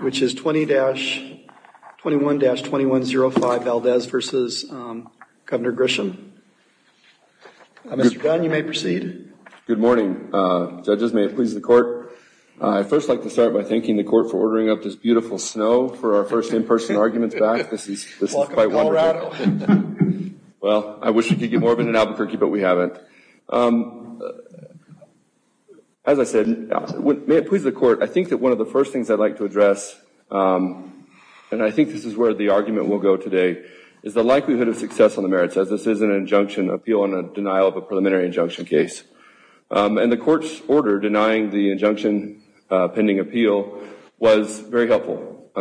which is 20-21-2105 Valdez v. Governor Grisham. Mr. Dunn, you may proceed. Good morning. Judges, may it please the court. I'd first like to start by thanking the court for ordering up this beautiful snow for our first in-person arguments back. This is quite wonderful. Welcome to Colorado. Well, I wish we could get more of it in Albuquerque, but we haven't. As I said, may it please the court, I think that one of the first things I'd like to address, and I think this is where the argument will go today, is the likelihood of success on the merits as this is an injunction appeal on a denial of a preliminary injunction case. And the court's order denying the injunction pending appeal was very helpful.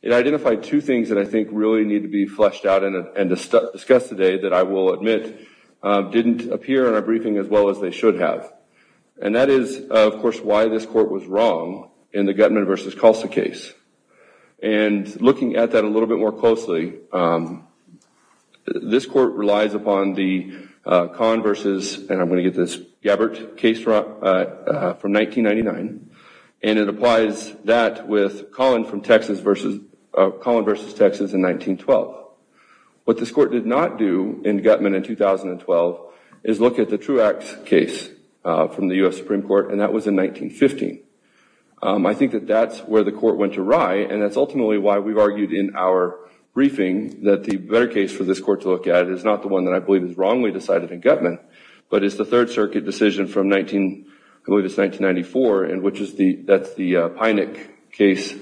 It identified two things that I think really need to be fleshed out and discussed today that I will admit didn't appear in our briefing as well as they should have. And that is, of course, why this court was wrong in the Guttman v. Kulsa case. And looking at that a little bit more closely, this court relies upon the Collin v. and I'm going to get this, Gabbert case from 1999, and it applies that with Collin v. Texas in 1912. What this court did not do in Guttman in 2012 is look at the Truax case from the U.S. Supreme Court, and that was in 1915. I think that that's where the court went awry, and that's ultimately why we've argued in our briefing that the better case for this court to look at is not the one that I believe is wrongly decided in Guttman, but it's the Third Circuit decision from I believe it's 1994, and that's the Pynik case.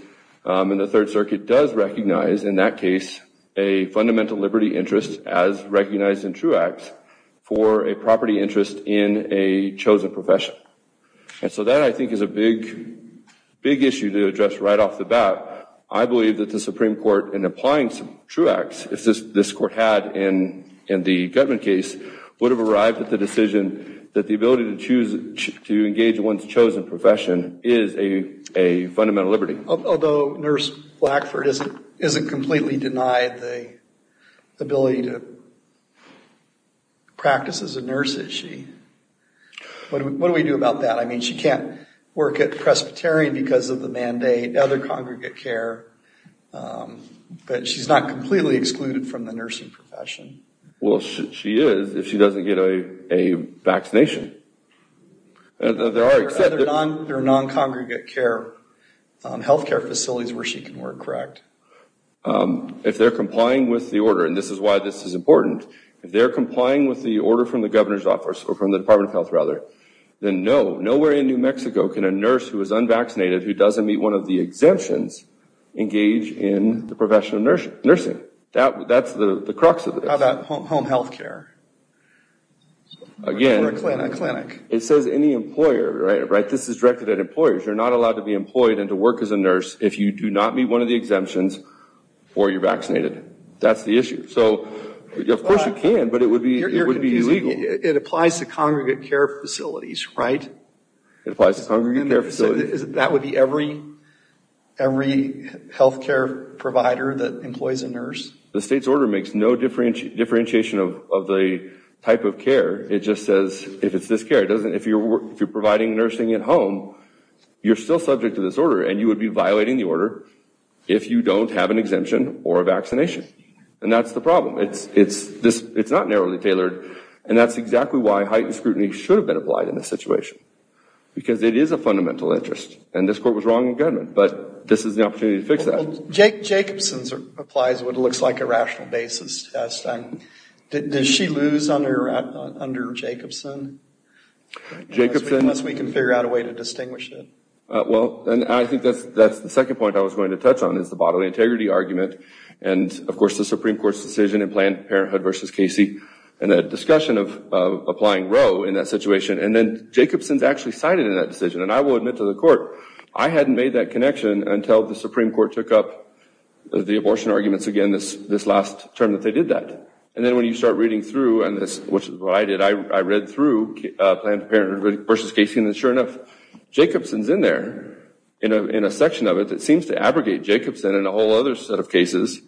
And the Third Circuit does recognize in that case a fundamental liberty interest as recognized in Truax for a property interest in a chosen profession. And so that I think is a big, big issue to address right off the bat. I believe that the Supreme Court, in applying some Truax, as this court had in the Guttman case, would have arrived at the decision that the ability to choose to engage one's chosen profession is a fundamental liberty. Although Nurse Blackford isn't completely denied the ability to practice as a nurse, is she? What do we do about that? I mean, she can't work at Presbyterian because of the mandate, other congregate care, but she's not completely excluded from the nursing profession. Well, she is if she doesn't get a vaccination. There are non-congregate care health care facilities where she can work, correct? If they're complying with the order, and this is why this is important, if they're complying with the order from the governor's office or from the Department of Health rather, then no, nowhere in New Mexico can a nurse who is unvaccinated who doesn't meet one of the exemptions engage in the profession of nursing. That's the crux of it. How about home health care? Again, it says any employer, right? This is directed at employers. You're not going to meet one of the exemptions or you're vaccinated. That's the issue. So, of course you can, but it would be illegal. It applies to congregate care facilities, right? It applies to congregate care facilities. That would be every health care provider that employs a nurse? The state's order makes no differentiation of the type of care. It just says if it's this care. If you're providing nursing at home, you're still subject to this order and you would be violating the order if you don't have an exemption or a vaccination. And that's the problem. It's not narrowly tailored and that's exactly why heightened scrutiny should have been applied in this situation. Because it is a fundamental interest. And this court was wrong in government, but this is the opportunity to fix that. Well, Jacobson's applies what looks like a rational basis test. Does she lose under Jacobson? Unless we can figure out a way to distinguish it. Well, I think that's the second point I was going to touch on is the bodily integrity argument and of course the Supreme Court's decision in Planned Parenthood v. Casey and the discussion of applying Roe in that situation. And then Jacobson's actually cited in that decision. And I will admit to the court, I hadn't made that connection until the Supreme Court took up the abortion arguments again this last term that they did that. And then when you start reading through, which is what I did, I read through Planned Parenthood v. Casey and sure enough, Jacobson's in there in a section of it that seems to abrogate Jacobson and a whole other set of cases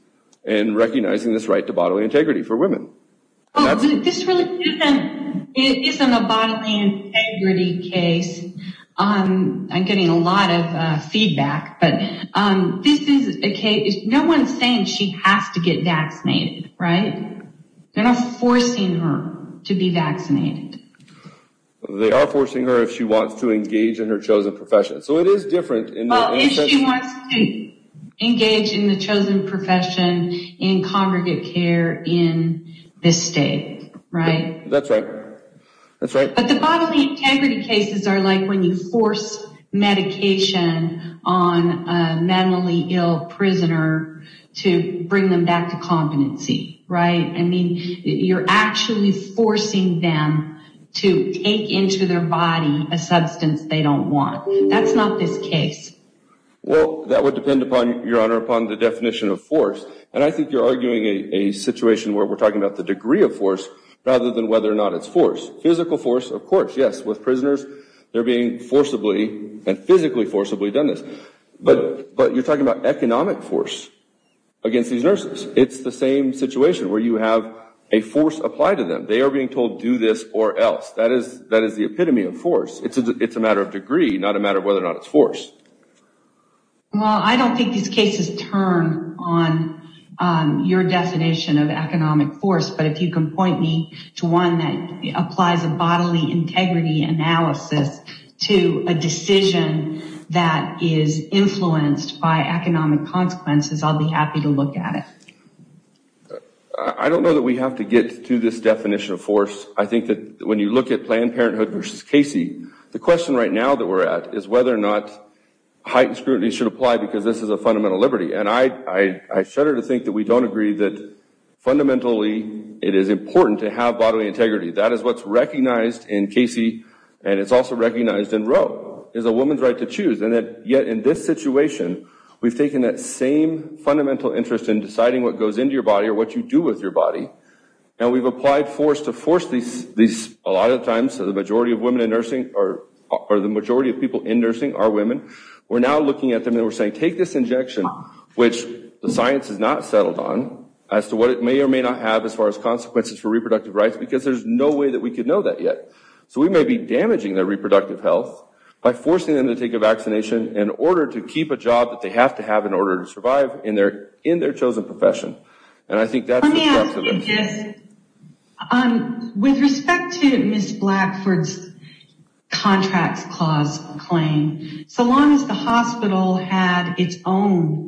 in recognizing this right to bodily integrity for women. This really isn't a bodily integrity case. I'm getting a lot of feedback, but this is a case, no one's saying she has to get vaccinated, right? They're not forcing her to be vaccinated. They are forcing her if she wants to engage in her chosen profession. So it is different. Well, if she wants to engage in the chosen profession in congregate care in this state, right? That's right. But the bodily integrity cases are like when you force medication on a mentally ill prisoner to bring them back to competency, right? I mean, you're actually forcing them to take into their body a substance they don't want. That's not this case. Well, that would depend, Your Honor, upon the definition of force. And I think you're arguing a situation where we're talking about the degree of force rather than whether or not it's force. Physical force, of course, yes. With prisoners, they're being forcibly and physically forcibly done this. But you're talking about economic force against these nurses. It's the same situation where you have a force applied to them. They are being told, do this or else. That is the epitome of force. It's a matter of degree, not a matter of whether or not it's force. Well, I don't think these cases turn on your definition of economic force. But if you can point me to one that applies a bodily integrity analysis to a decision that is influenced by economic consequences, I'll be happy to look at it. I don't know that we have to get to this definition of force. I think that when you look at Planned Parenthood versus Casey, the question right now that we're at is whether or not heightened scrutiny should apply because this is a fundamental liberty. And I shudder to think that we don't agree that fundamentally it is important to have bodily integrity. That is what's recognized in Casey and it's also recognized in Roe. It's a woman's right to choose. And yet in this situation, we've taken that same fundamental interest in deciding what goes into your body or what you do with your body. And we've applied force to force these, a lot of times, the majority of women in nursing or the majority of people in nursing are women. We're now looking at them and we're saying take this injection, which the science is not settled on, as to what it may or may not have as far as consequences for reproductive rights because there's no way that we could know that yet. So we may be damaging their reproductive health by forcing them to take a vaccination in order to keep a job that they have to have in order to survive in their chosen profession. And I think that's disruptive. Yes. With respect to Ms. Blackford's contract clause claim, so long as the hospital had its own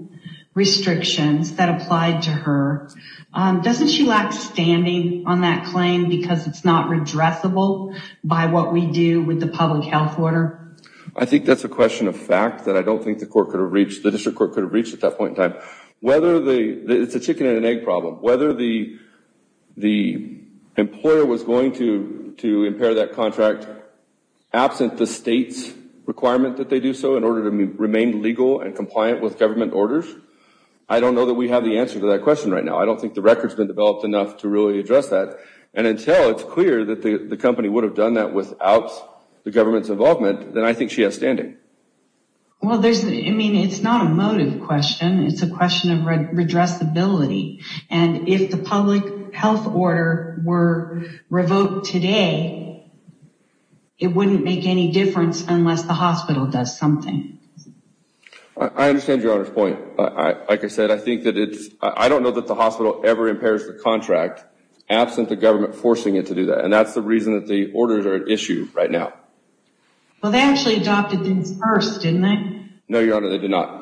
restrictions that applied to her, doesn't she lack standing on that claim because it's not redressable by what we do with the public health order? I think that's a question of fact that I don't think the court could have reached, the district chicken and egg problem. Whether the employer was going to impair that contract absent the state's requirement that they do so in order to remain legal and compliant with government orders, I don't know that we have the answer to that question right now. I don't think the record's been developed enough to really address that. And until it's clear that the company would have done that without the government's involvement, then I think she has standing. Well, I mean, it's not a motive question. It's a question of redressability. And if the public health order were revoked today, it wouldn't make any difference unless the hospital does something. I understand Your Honor's point. Like I said, I don't know that the hospital ever impairs the contract absent the government forcing it to do that. And that's the reason that the orders are at issue right now. Well, they actually adopted things first, didn't they? No, Your Honor, they did not.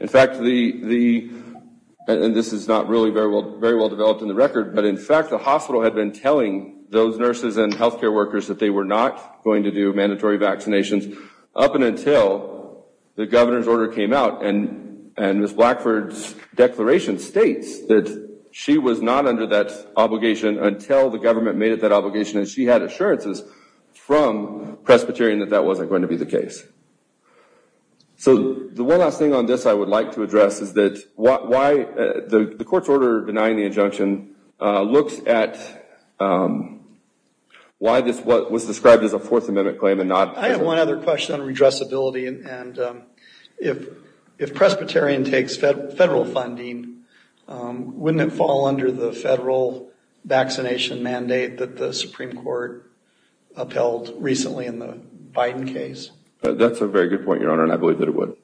In fact, the, and this is not really very well developed in the record, but in fact the hospital had been telling those nurses and health care workers that they were not going to do mandatory vaccinations up until the governor's order came out. And Ms. Blackford's declaration states that she was not under that obligation until the government made it that obligation. And she had assurances from Presbyterian that that wasn't going to be the case. So, the one last thing on this I would like to address is that why the court's order denying the injunction looks at why this was described as a Fourth Amendment claim and not... I have one other question on redressability. And if Presbyterian takes federal funding, wouldn't it fall under the federal vaccination mandate that the Supreme Court upheld recently in the Biden case? That's a very good point, Your Honor, and I believe that it would.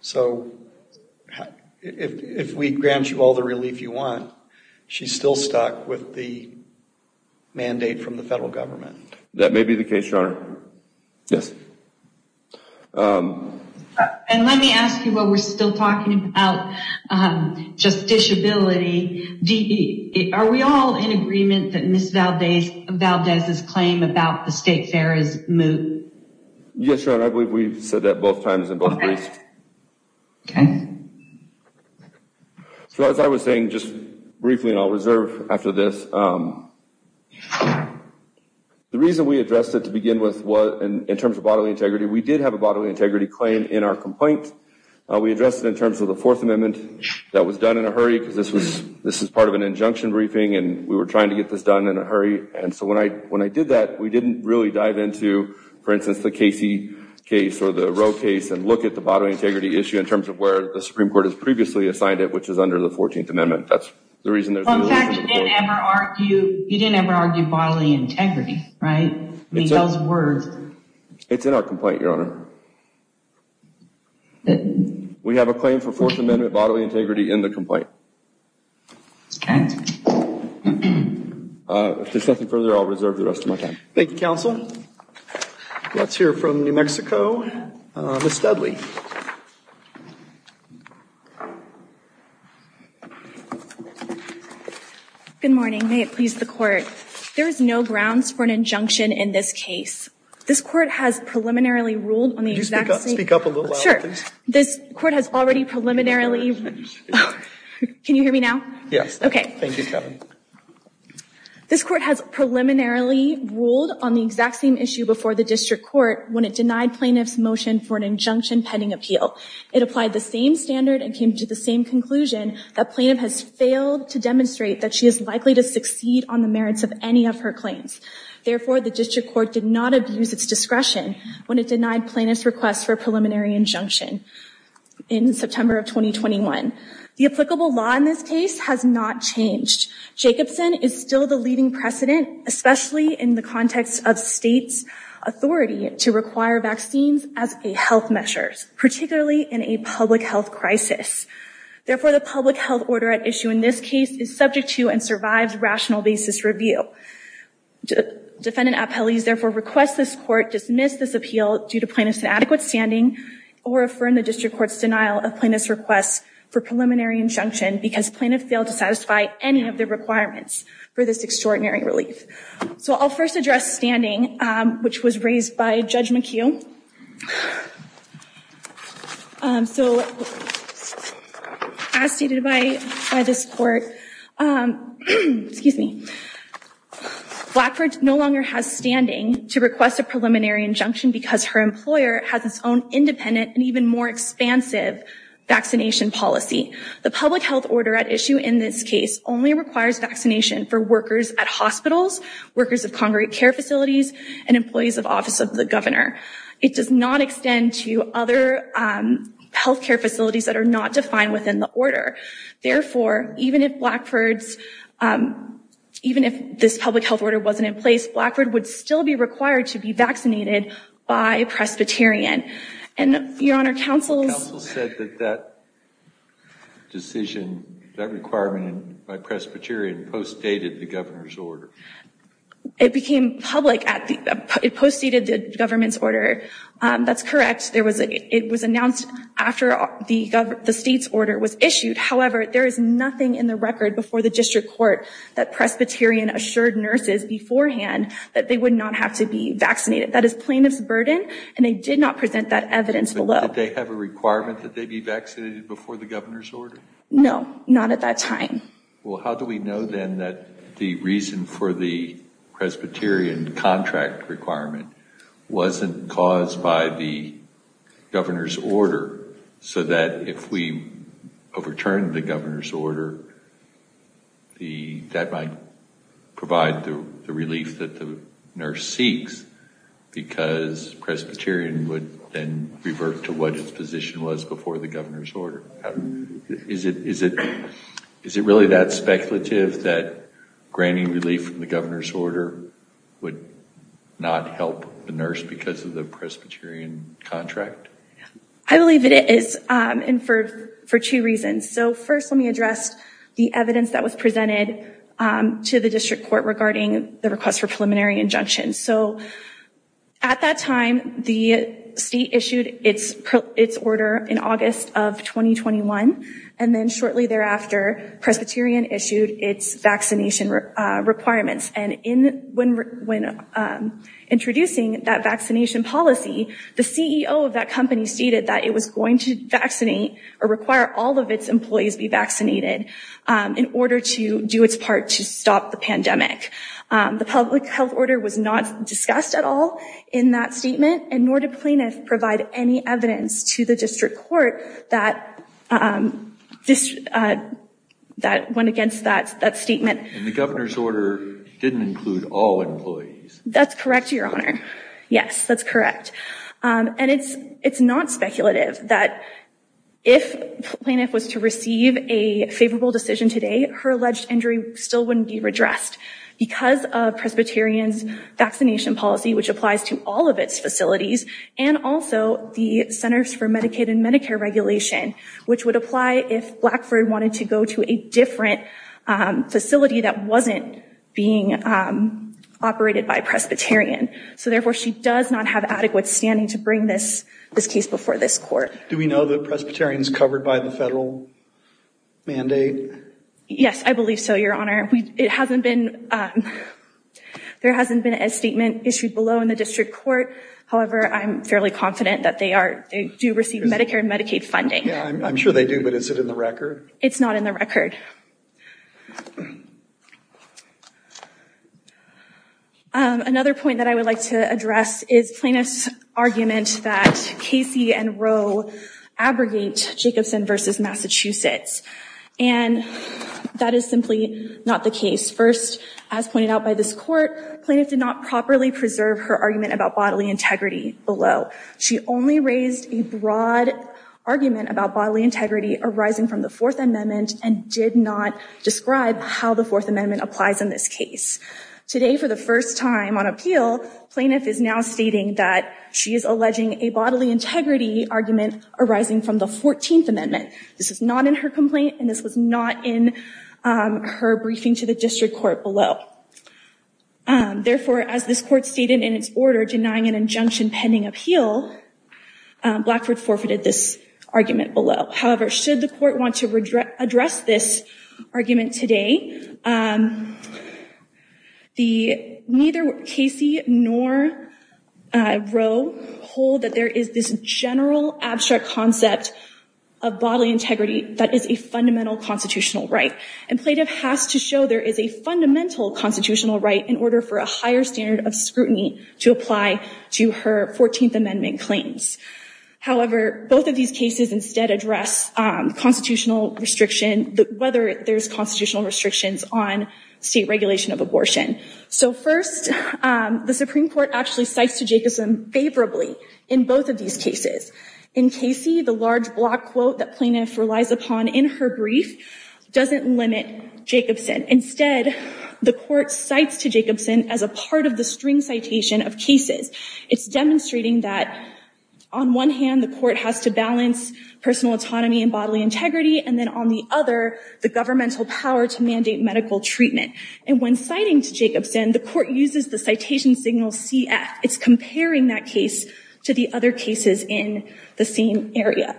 So, if we grant you all the relief you want, she's still stuck with the mandate from the federal government? That may be the case, Your Honor. Yes. And let me ask you while we're still talking about just disability, are we all in agreement that Ms. Valdez's claim about the state fair is moot? Yes, Your Honor, I believe we've said that both times in both briefs. Okay. So, as I was saying just briefly, and I'll reserve after this, the reason we addressed it to begin with in terms of bodily integrity, we did have a bodily integrity claim in our complaint. We addressed it in terms of the Fourth Amendment that was done in a hurry because this was part of an injunction briefing and we were trying to get this done in a hurry. And so when I did that, we didn't really dive into, for instance, the Casey case or the Roe case and look at the bodily integrity issue in terms of where the Supreme Court Well, in fact, you didn't ever argue bodily integrity, right? I mean, those words. It's in our complaint, Your Honor. We have a claim for Fourth Amendment bodily integrity in the complaint. Okay. If there's nothing further, I'll reserve the rest of my time. Thank you, Counsel. Let's hear from New Mexico. Ms. Dudley. Good morning. May it please the Court. There is no grounds for an injunction in this case. This Court has preliminarily ruled on the exact same Could you speak up a little louder, please? Sure. This Court has already preliminarily Can you hear me now? Yes. Okay. Thank you, Kevin. This Court has preliminarily ruled on the exact same issue before the District Court when it denied plaintiff's motion for an injunction pending appeal. It applied the same standard and came to the same conclusion that plaintiff has failed to demonstrate that she is likely to succeed on the merits of any of her claims. Therefore, the District Court did not abuse its discretion when it denied plaintiff's request for a preliminary injunction in September of 2021. The applicable law in this case has not changed. Jacobson is still the leading precedent, especially in the context of states' authority to require vaccines as a health measure, particularly in a public health crisis. Therefore, the public health order at issue in this case is subject to and survives rational basis review. Defendant appellees therefore request this Court dismiss this appeal due to plaintiff's inadequate standing or affirm the District Court's denial of plaintiff's request for preliminary injunction because plaintiff failed to satisfy any of the requirements for this extraordinary relief. So I'll first address standing, which was raised by Judge McHugh. As stated by this Court, Blackford no longer has standing to request a preliminary injunction because her employer has its own independent and even more expansive vaccination policy. The public health order at issue in this case only requires vaccination for workers at hospitals, workers of congregate care facilities, and employees of Office of the Governor. It does not extend to other health care facilities that are not defined within the order. Therefore, even if this public health order wasn't in place, Blackford would still be required to be vaccinated by Presbyterian. Your Honor, counsel said that that decision, that requirement by Presbyterian postdated the Governor's order. It became public. It postdated the Government's order. That's correct. It was announced after the State's order was issued. However, there is nothing in the record before the District Court that Presbyterian assured nurses beforehand that they would not have to be vaccinated. That is plaintiff's burden, and they did not present that evidence below. Did they have a requirement that they be vaccinated before the Governor's order? No, not at that time. Well, how do we know, then, that the reason for the Presbyterian contract requirement wasn't caused by the Governor's order so that if we overturn the Governor's order, that might provide the relief that the nurse seeks because Presbyterian would then revert to what its position was before the Governor's order? Is it really that speculative that granting relief from the Governor's order would not help the nurse because of the Presbyterian contract? I believe it is, and for two reasons. First, let me address the evidence that was presented to the District Court regarding the request for preliminary injunction. At that time, the State issued its order in August of 2021, and then shortly thereafter, Presbyterian issued its vaccination requirements. When introducing that vaccination policy, the CEO of that company stated that it was going to vaccinate or require all of its employees be vaccinated in order to do its part to stop the pandemic. The public health order was not discussed at all in that statement, and nor did Plaintiff provide any evidence to the District Court that went against that statement. And the Governor's order didn't include all employees. That's correct, Your Honor. Yes, that's correct. And it's not speculative that if Plaintiff was to receive a favorable decision today, her alleged injury still wouldn't be redressed because of Presbyterian's vaccination policy, which applies to all of its facilities, and also the Centers for Medicaid and Medicare regulation, which would apply if Blackford wanted to go to a different facility that wasn't being operated by Presbyterian. So, therefore, she does not have adequate standing to bring this case before this Court. Do we know that Presbyterian is covered by the federal mandate? Yes, I believe so, Your Honor. It hasn't been, there hasn't been a statement issued below in the District Court. However, I'm fairly confident that they do receive Medicare and Medicaid funding. I'm sure they do, but is it in the record? It's not in the record. Another point that I would like to address is Plaintiff's argument that Casey and Roe abrogate Jacobson v. Massachusetts, and that is simply not the case. First, as pointed out by this Court, Plaintiff did not properly preserve her argument about bodily integrity below. She only raised a broad argument about bodily integrity arising from the Fourth Amendment and did not describe how the Fourth Amendment applies in this case. Today, for the first time on appeal, Plaintiff is now stating that she is alleging a bodily integrity argument arising from the Fourteenth Amendment. This is not in her complaint, and this was not in her briefing to the District Court below. Therefore, as this Court stated in its order, denying an injunction pending appeal, Blackford forfeited this argument below. However, should the Court want to address this argument today, neither Casey nor Roe hold that there is this general, abstract concept of bodily integrity that is a fundamental constitutional right, and Plaintiff has to show there is a fundamental constitutional right in order for a higher standard of scrutiny to apply to her Fourteenth Amendment claims. However, both of these cases instead address constitutional restriction, whether there's constitutional restrictions on state regulation of abortion. So first, the Supreme Court actually cites to Jacobson favorably in both of these cases. In Casey, the large block quote that Plaintiff relies upon in her brief doesn't limit Jacobson. Instead, the Court cites to Jacobson as a part of the string citation of cases. It's demonstrating that on one hand, the Court has to balance personal autonomy and bodily integrity, and then on the other, the governmental power to mandate medical treatment. And when citing to Jacobson, the Court uses the citation signal CF. It's comparing that case to the other cases in the same area.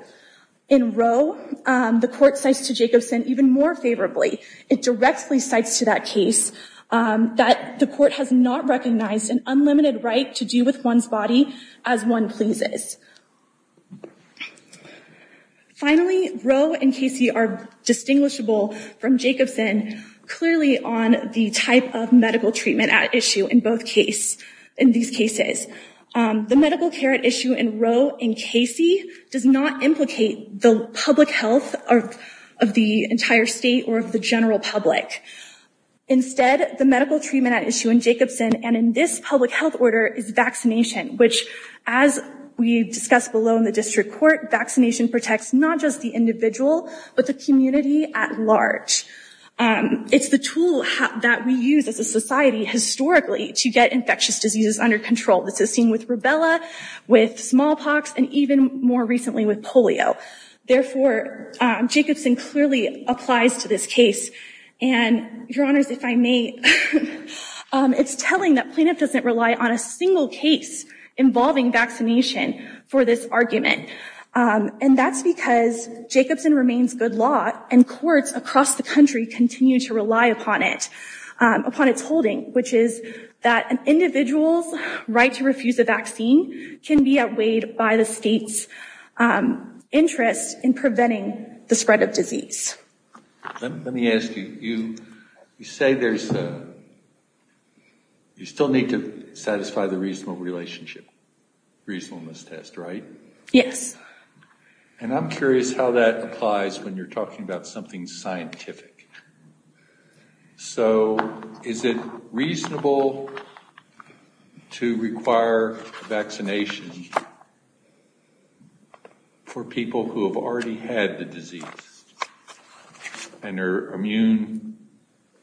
In Roe, the Court cites to Jacobson even more favorably. It directly cites to that case that the Court has not recognized an unlimited right to do with one's body as one pleases. Finally, Roe and Casey are distinguishable from Jacobson, clearly on the type of medical treatment at issue in both cases. The medical care at issue in Roe and Casey does not implicate the public health of the entire state or of the general public. Instead, the medical treatment at issue in Jacobson and in this public health order is vaccination, which as we discussed below in the District Court, vaccination protects not just the individual, but the community at large. It's the tool that we use as a society historically to get infectious diseases under control. This is seen with rubella, with smallpox, and even more recently with polio. Therefore, Jacobson clearly applies to this case. Your Honors, if I may, it's telling that plaintiff doesn't rely on a single case involving vaccination for this argument. That's because Jacobson remains good law and courts across the country continue to rely upon its holding, which is that an individual's right to refuse a vaccine can be outweighed by the state's interest in preventing the spread of disease. Let me ask you, you say there's a, you still need to satisfy the reasonable relationship, reasonableness test, right? Yes. And I'm curious how that applies when you're talking about something scientific. So is it reasonable to require vaccination for people who have already had the disease and are immune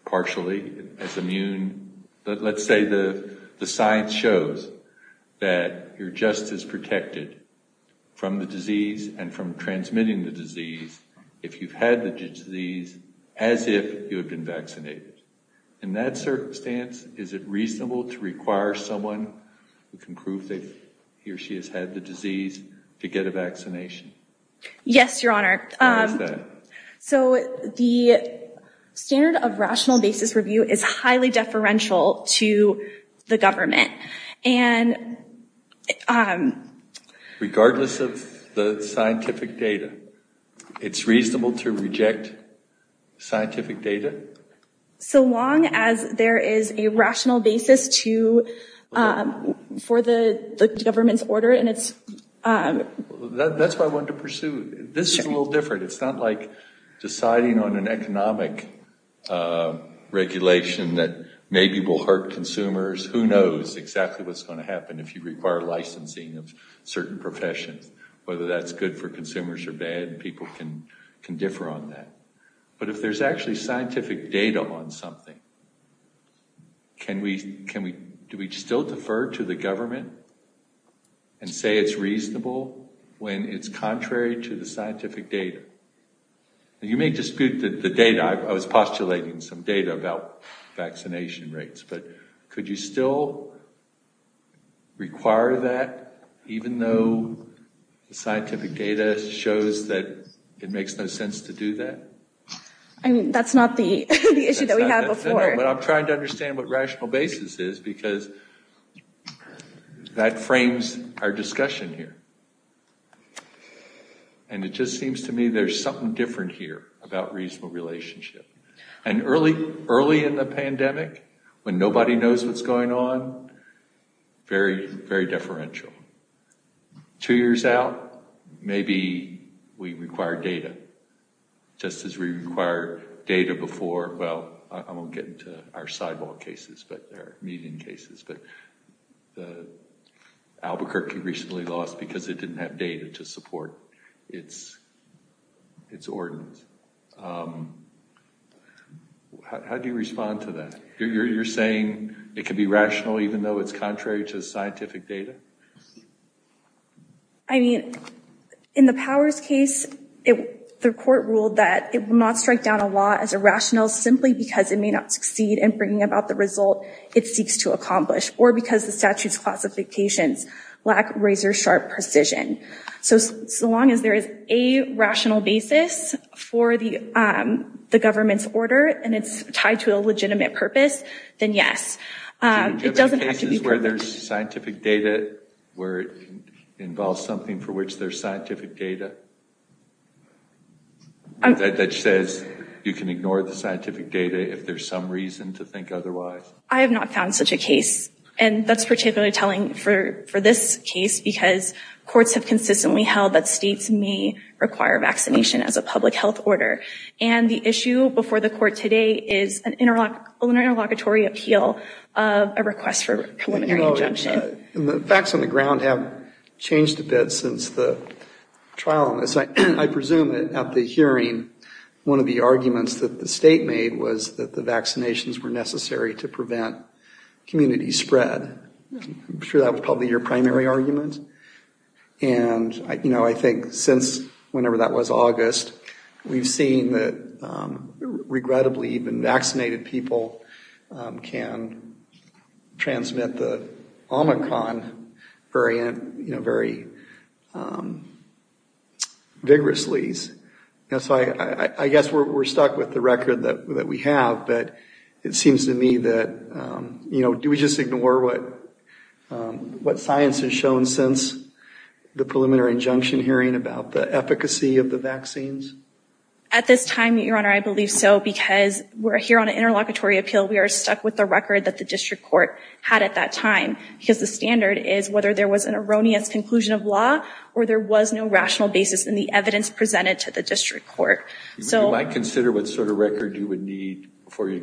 partially, as immune, let's say the science shows that you're just as protected from the disease and from transmitting the disease if you've had the disease as if you had been vaccinated. In that circumstance, is it reasonable to require someone who can prove that he or she has had the disease to get a vaccination? Yes, Your Honor. Why is that? So the standard of rational basis review is highly deferential to the government. And regardless of the scientific data, it's reasonable to reject scientific data? So long as there is a rational basis for the government's order. That's what I wanted to pursue. This is a little different. It's not like deciding on an economic regulation that maybe will hurt consumers. Who knows exactly what's going to happen if you require licensing of certain professions, whether that's good for consumers or bad. People can differ on that. But if there's actually scientific data on something, do we still defer to the government and say it's reasonable when it's contrary to the scientific data? You may dispute the data. I was postulating some data about vaccination rates. But could you still require that, even though the scientific data shows that it makes no sense to do that? That's not the issue that we had before. But I'm trying to understand what rational basis is because that frames our discussion here. And it just seems to me there's something different here about reasonable relationship. And early in the pandemic, when nobody knows what's going on, very, very deferential. Two years out, maybe we require data, just as we required data before. Well, I won't get into our sidewalk cases, but they're median cases. But Albuquerque recently lost because it didn't have data to support its ordinance. How do you respond to that? You're saying it could be rational even though it's contrary to scientific data? I mean, in the Powers case, the court ruled that it will not strike down a law as irrational simply because it may not succeed in bringing about the result it seeks to accomplish, or because the statute's classifications lack razor-sharp precision. So long as there is a rational basis for the government's order and it's tied to a legitimate purpose, then yes. It doesn't have to be perfect. So you're talking about cases where there's scientific data, where it involves something for which there's scientific data, that says you can ignore the scientific data if there's some reason to think otherwise? I have not found such a case. And that's particularly telling for this case because courts have consistently held that states may require vaccination as a public health order. And the issue before the court today is an interlocutory appeal of a request for preliminary injunction. The facts on the ground have changed a bit since the trial on this. I presume at the hearing, one of the arguments that the state made was that the vaccinations were necessary to prevent community spread. I'm sure that was probably your primary argument. And I think since whenever that was, August, we've seen that regrettably even vaccinated people can transmit the Omicron variant very vigorously. So I guess we're stuck with the record that we have. But it seems to me that, you know, do we just ignore what science has shown since the preliminary injunction hearing about the efficacy of the vaccines? At this time, Your Honor, I believe so because we're here on an interlocutory appeal. We are stuck with the record that the district court had at that time because the standard is whether there was an erroneous conclusion of law or there was no rational basis in the evidence presented to the district court. You might consider what sort of record you would need before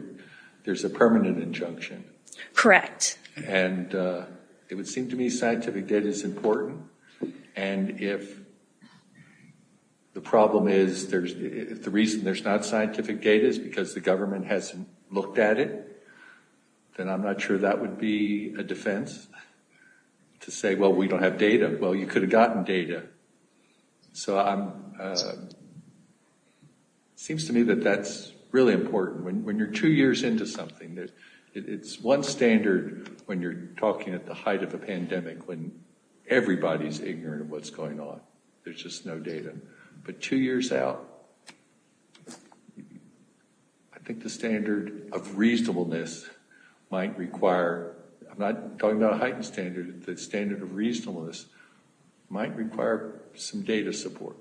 there's a permanent injunction. Correct. And it would seem to me scientific data is important. And if the problem is the reason there's not scientific data is because the government hasn't looked at it, then I'm not sure that would be a defense to say, well, we don't have data. Well, you could have gotten data. So it seems to me that that's really important. When you're two years into something, it's one standard when you're talking at the height of a pandemic when everybody's ignorant of what's going on. There's just no data. But two years out, I think the standard of reasonableness might require – I'm not talking about a heightened standard. The standard of reasonableness might require some data support.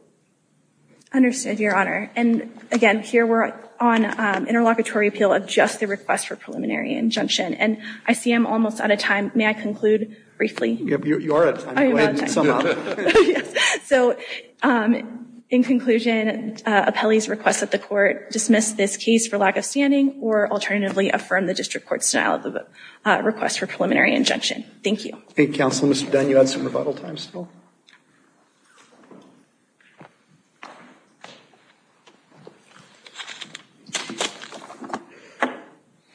Understood, Your Honor. And, again, here we're on interlocutory appeal of just the request for preliminary injunction. And I see I'm almost out of time. May I conclude briefly? You are out of time. So, in conclusion, appellee's request that the court dismiss this case for lack of standing or alternatively affirm the district court's denial of the request for preliminary injunction. Thank you. Thank you, Counsel. Mr. Dunn, you had some rebuttal time still.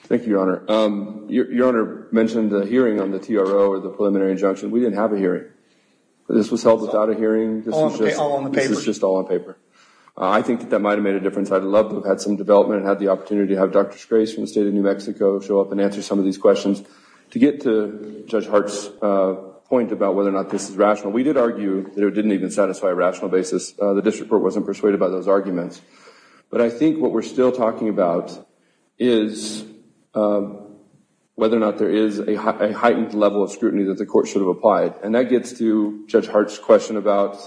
Thank you, Your Honor. Your Honor mentioned the hearing on the TRO or the preliminary injunction. We didn't have a hearing. This was held without a hearing. All on the paper. This was just all on paper. I think that that might have made a difference. I would have loved to have had some development and had the opportunity to have Dr. Scrace from the state of New Mexico show up and answer some of these questions to get to Judge Hart's point about whether or not this is rational. We did argue that it didn't even satisfy a rational basis. The district court wasn't persuaded by those arguments. But I think what we're still talking about is whether or not there is a heightened level of scrutiny that the court should have applied. And that gets to Judge Hart's question about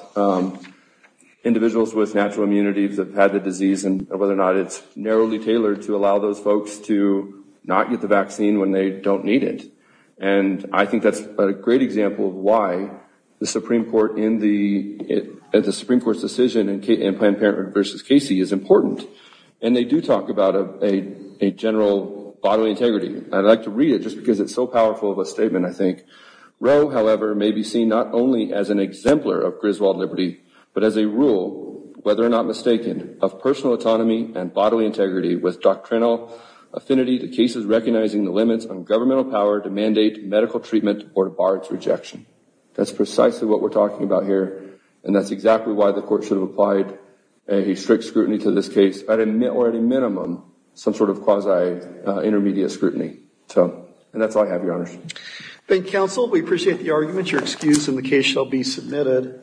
individuals with natural immunity that have had the disease and whether or not it's narrowly tailored to allow those folks to not get the vaccine when they don't need it. And I think that's a great example of why the Supreme Court, at the Supreme Court's decision in Planned Parenthood v. Casey, is important. And they do talk about a general bodily integrity. I'd like to read it just because it's so powerful of a statement, I think. Roe, however, may be seen not only as an exemplar of Griswold liberty, but as a rule, whether or not mistaken, of personal autonomy and bodily integrity with doctrinal affinity to cases recognizing the limits on governmental power to mandate medical treatment or to bar its rejection. That's precisely what we're talking about here. And that's exactly why the court should have applied a strict scrutiny to this case, or at a minimum, some sort of quasi-intermediate scrutiny. And that's all I have, Your Honors. Thank you, Counsel. We appreciate the argument. Your excuse in the case shall be submitted.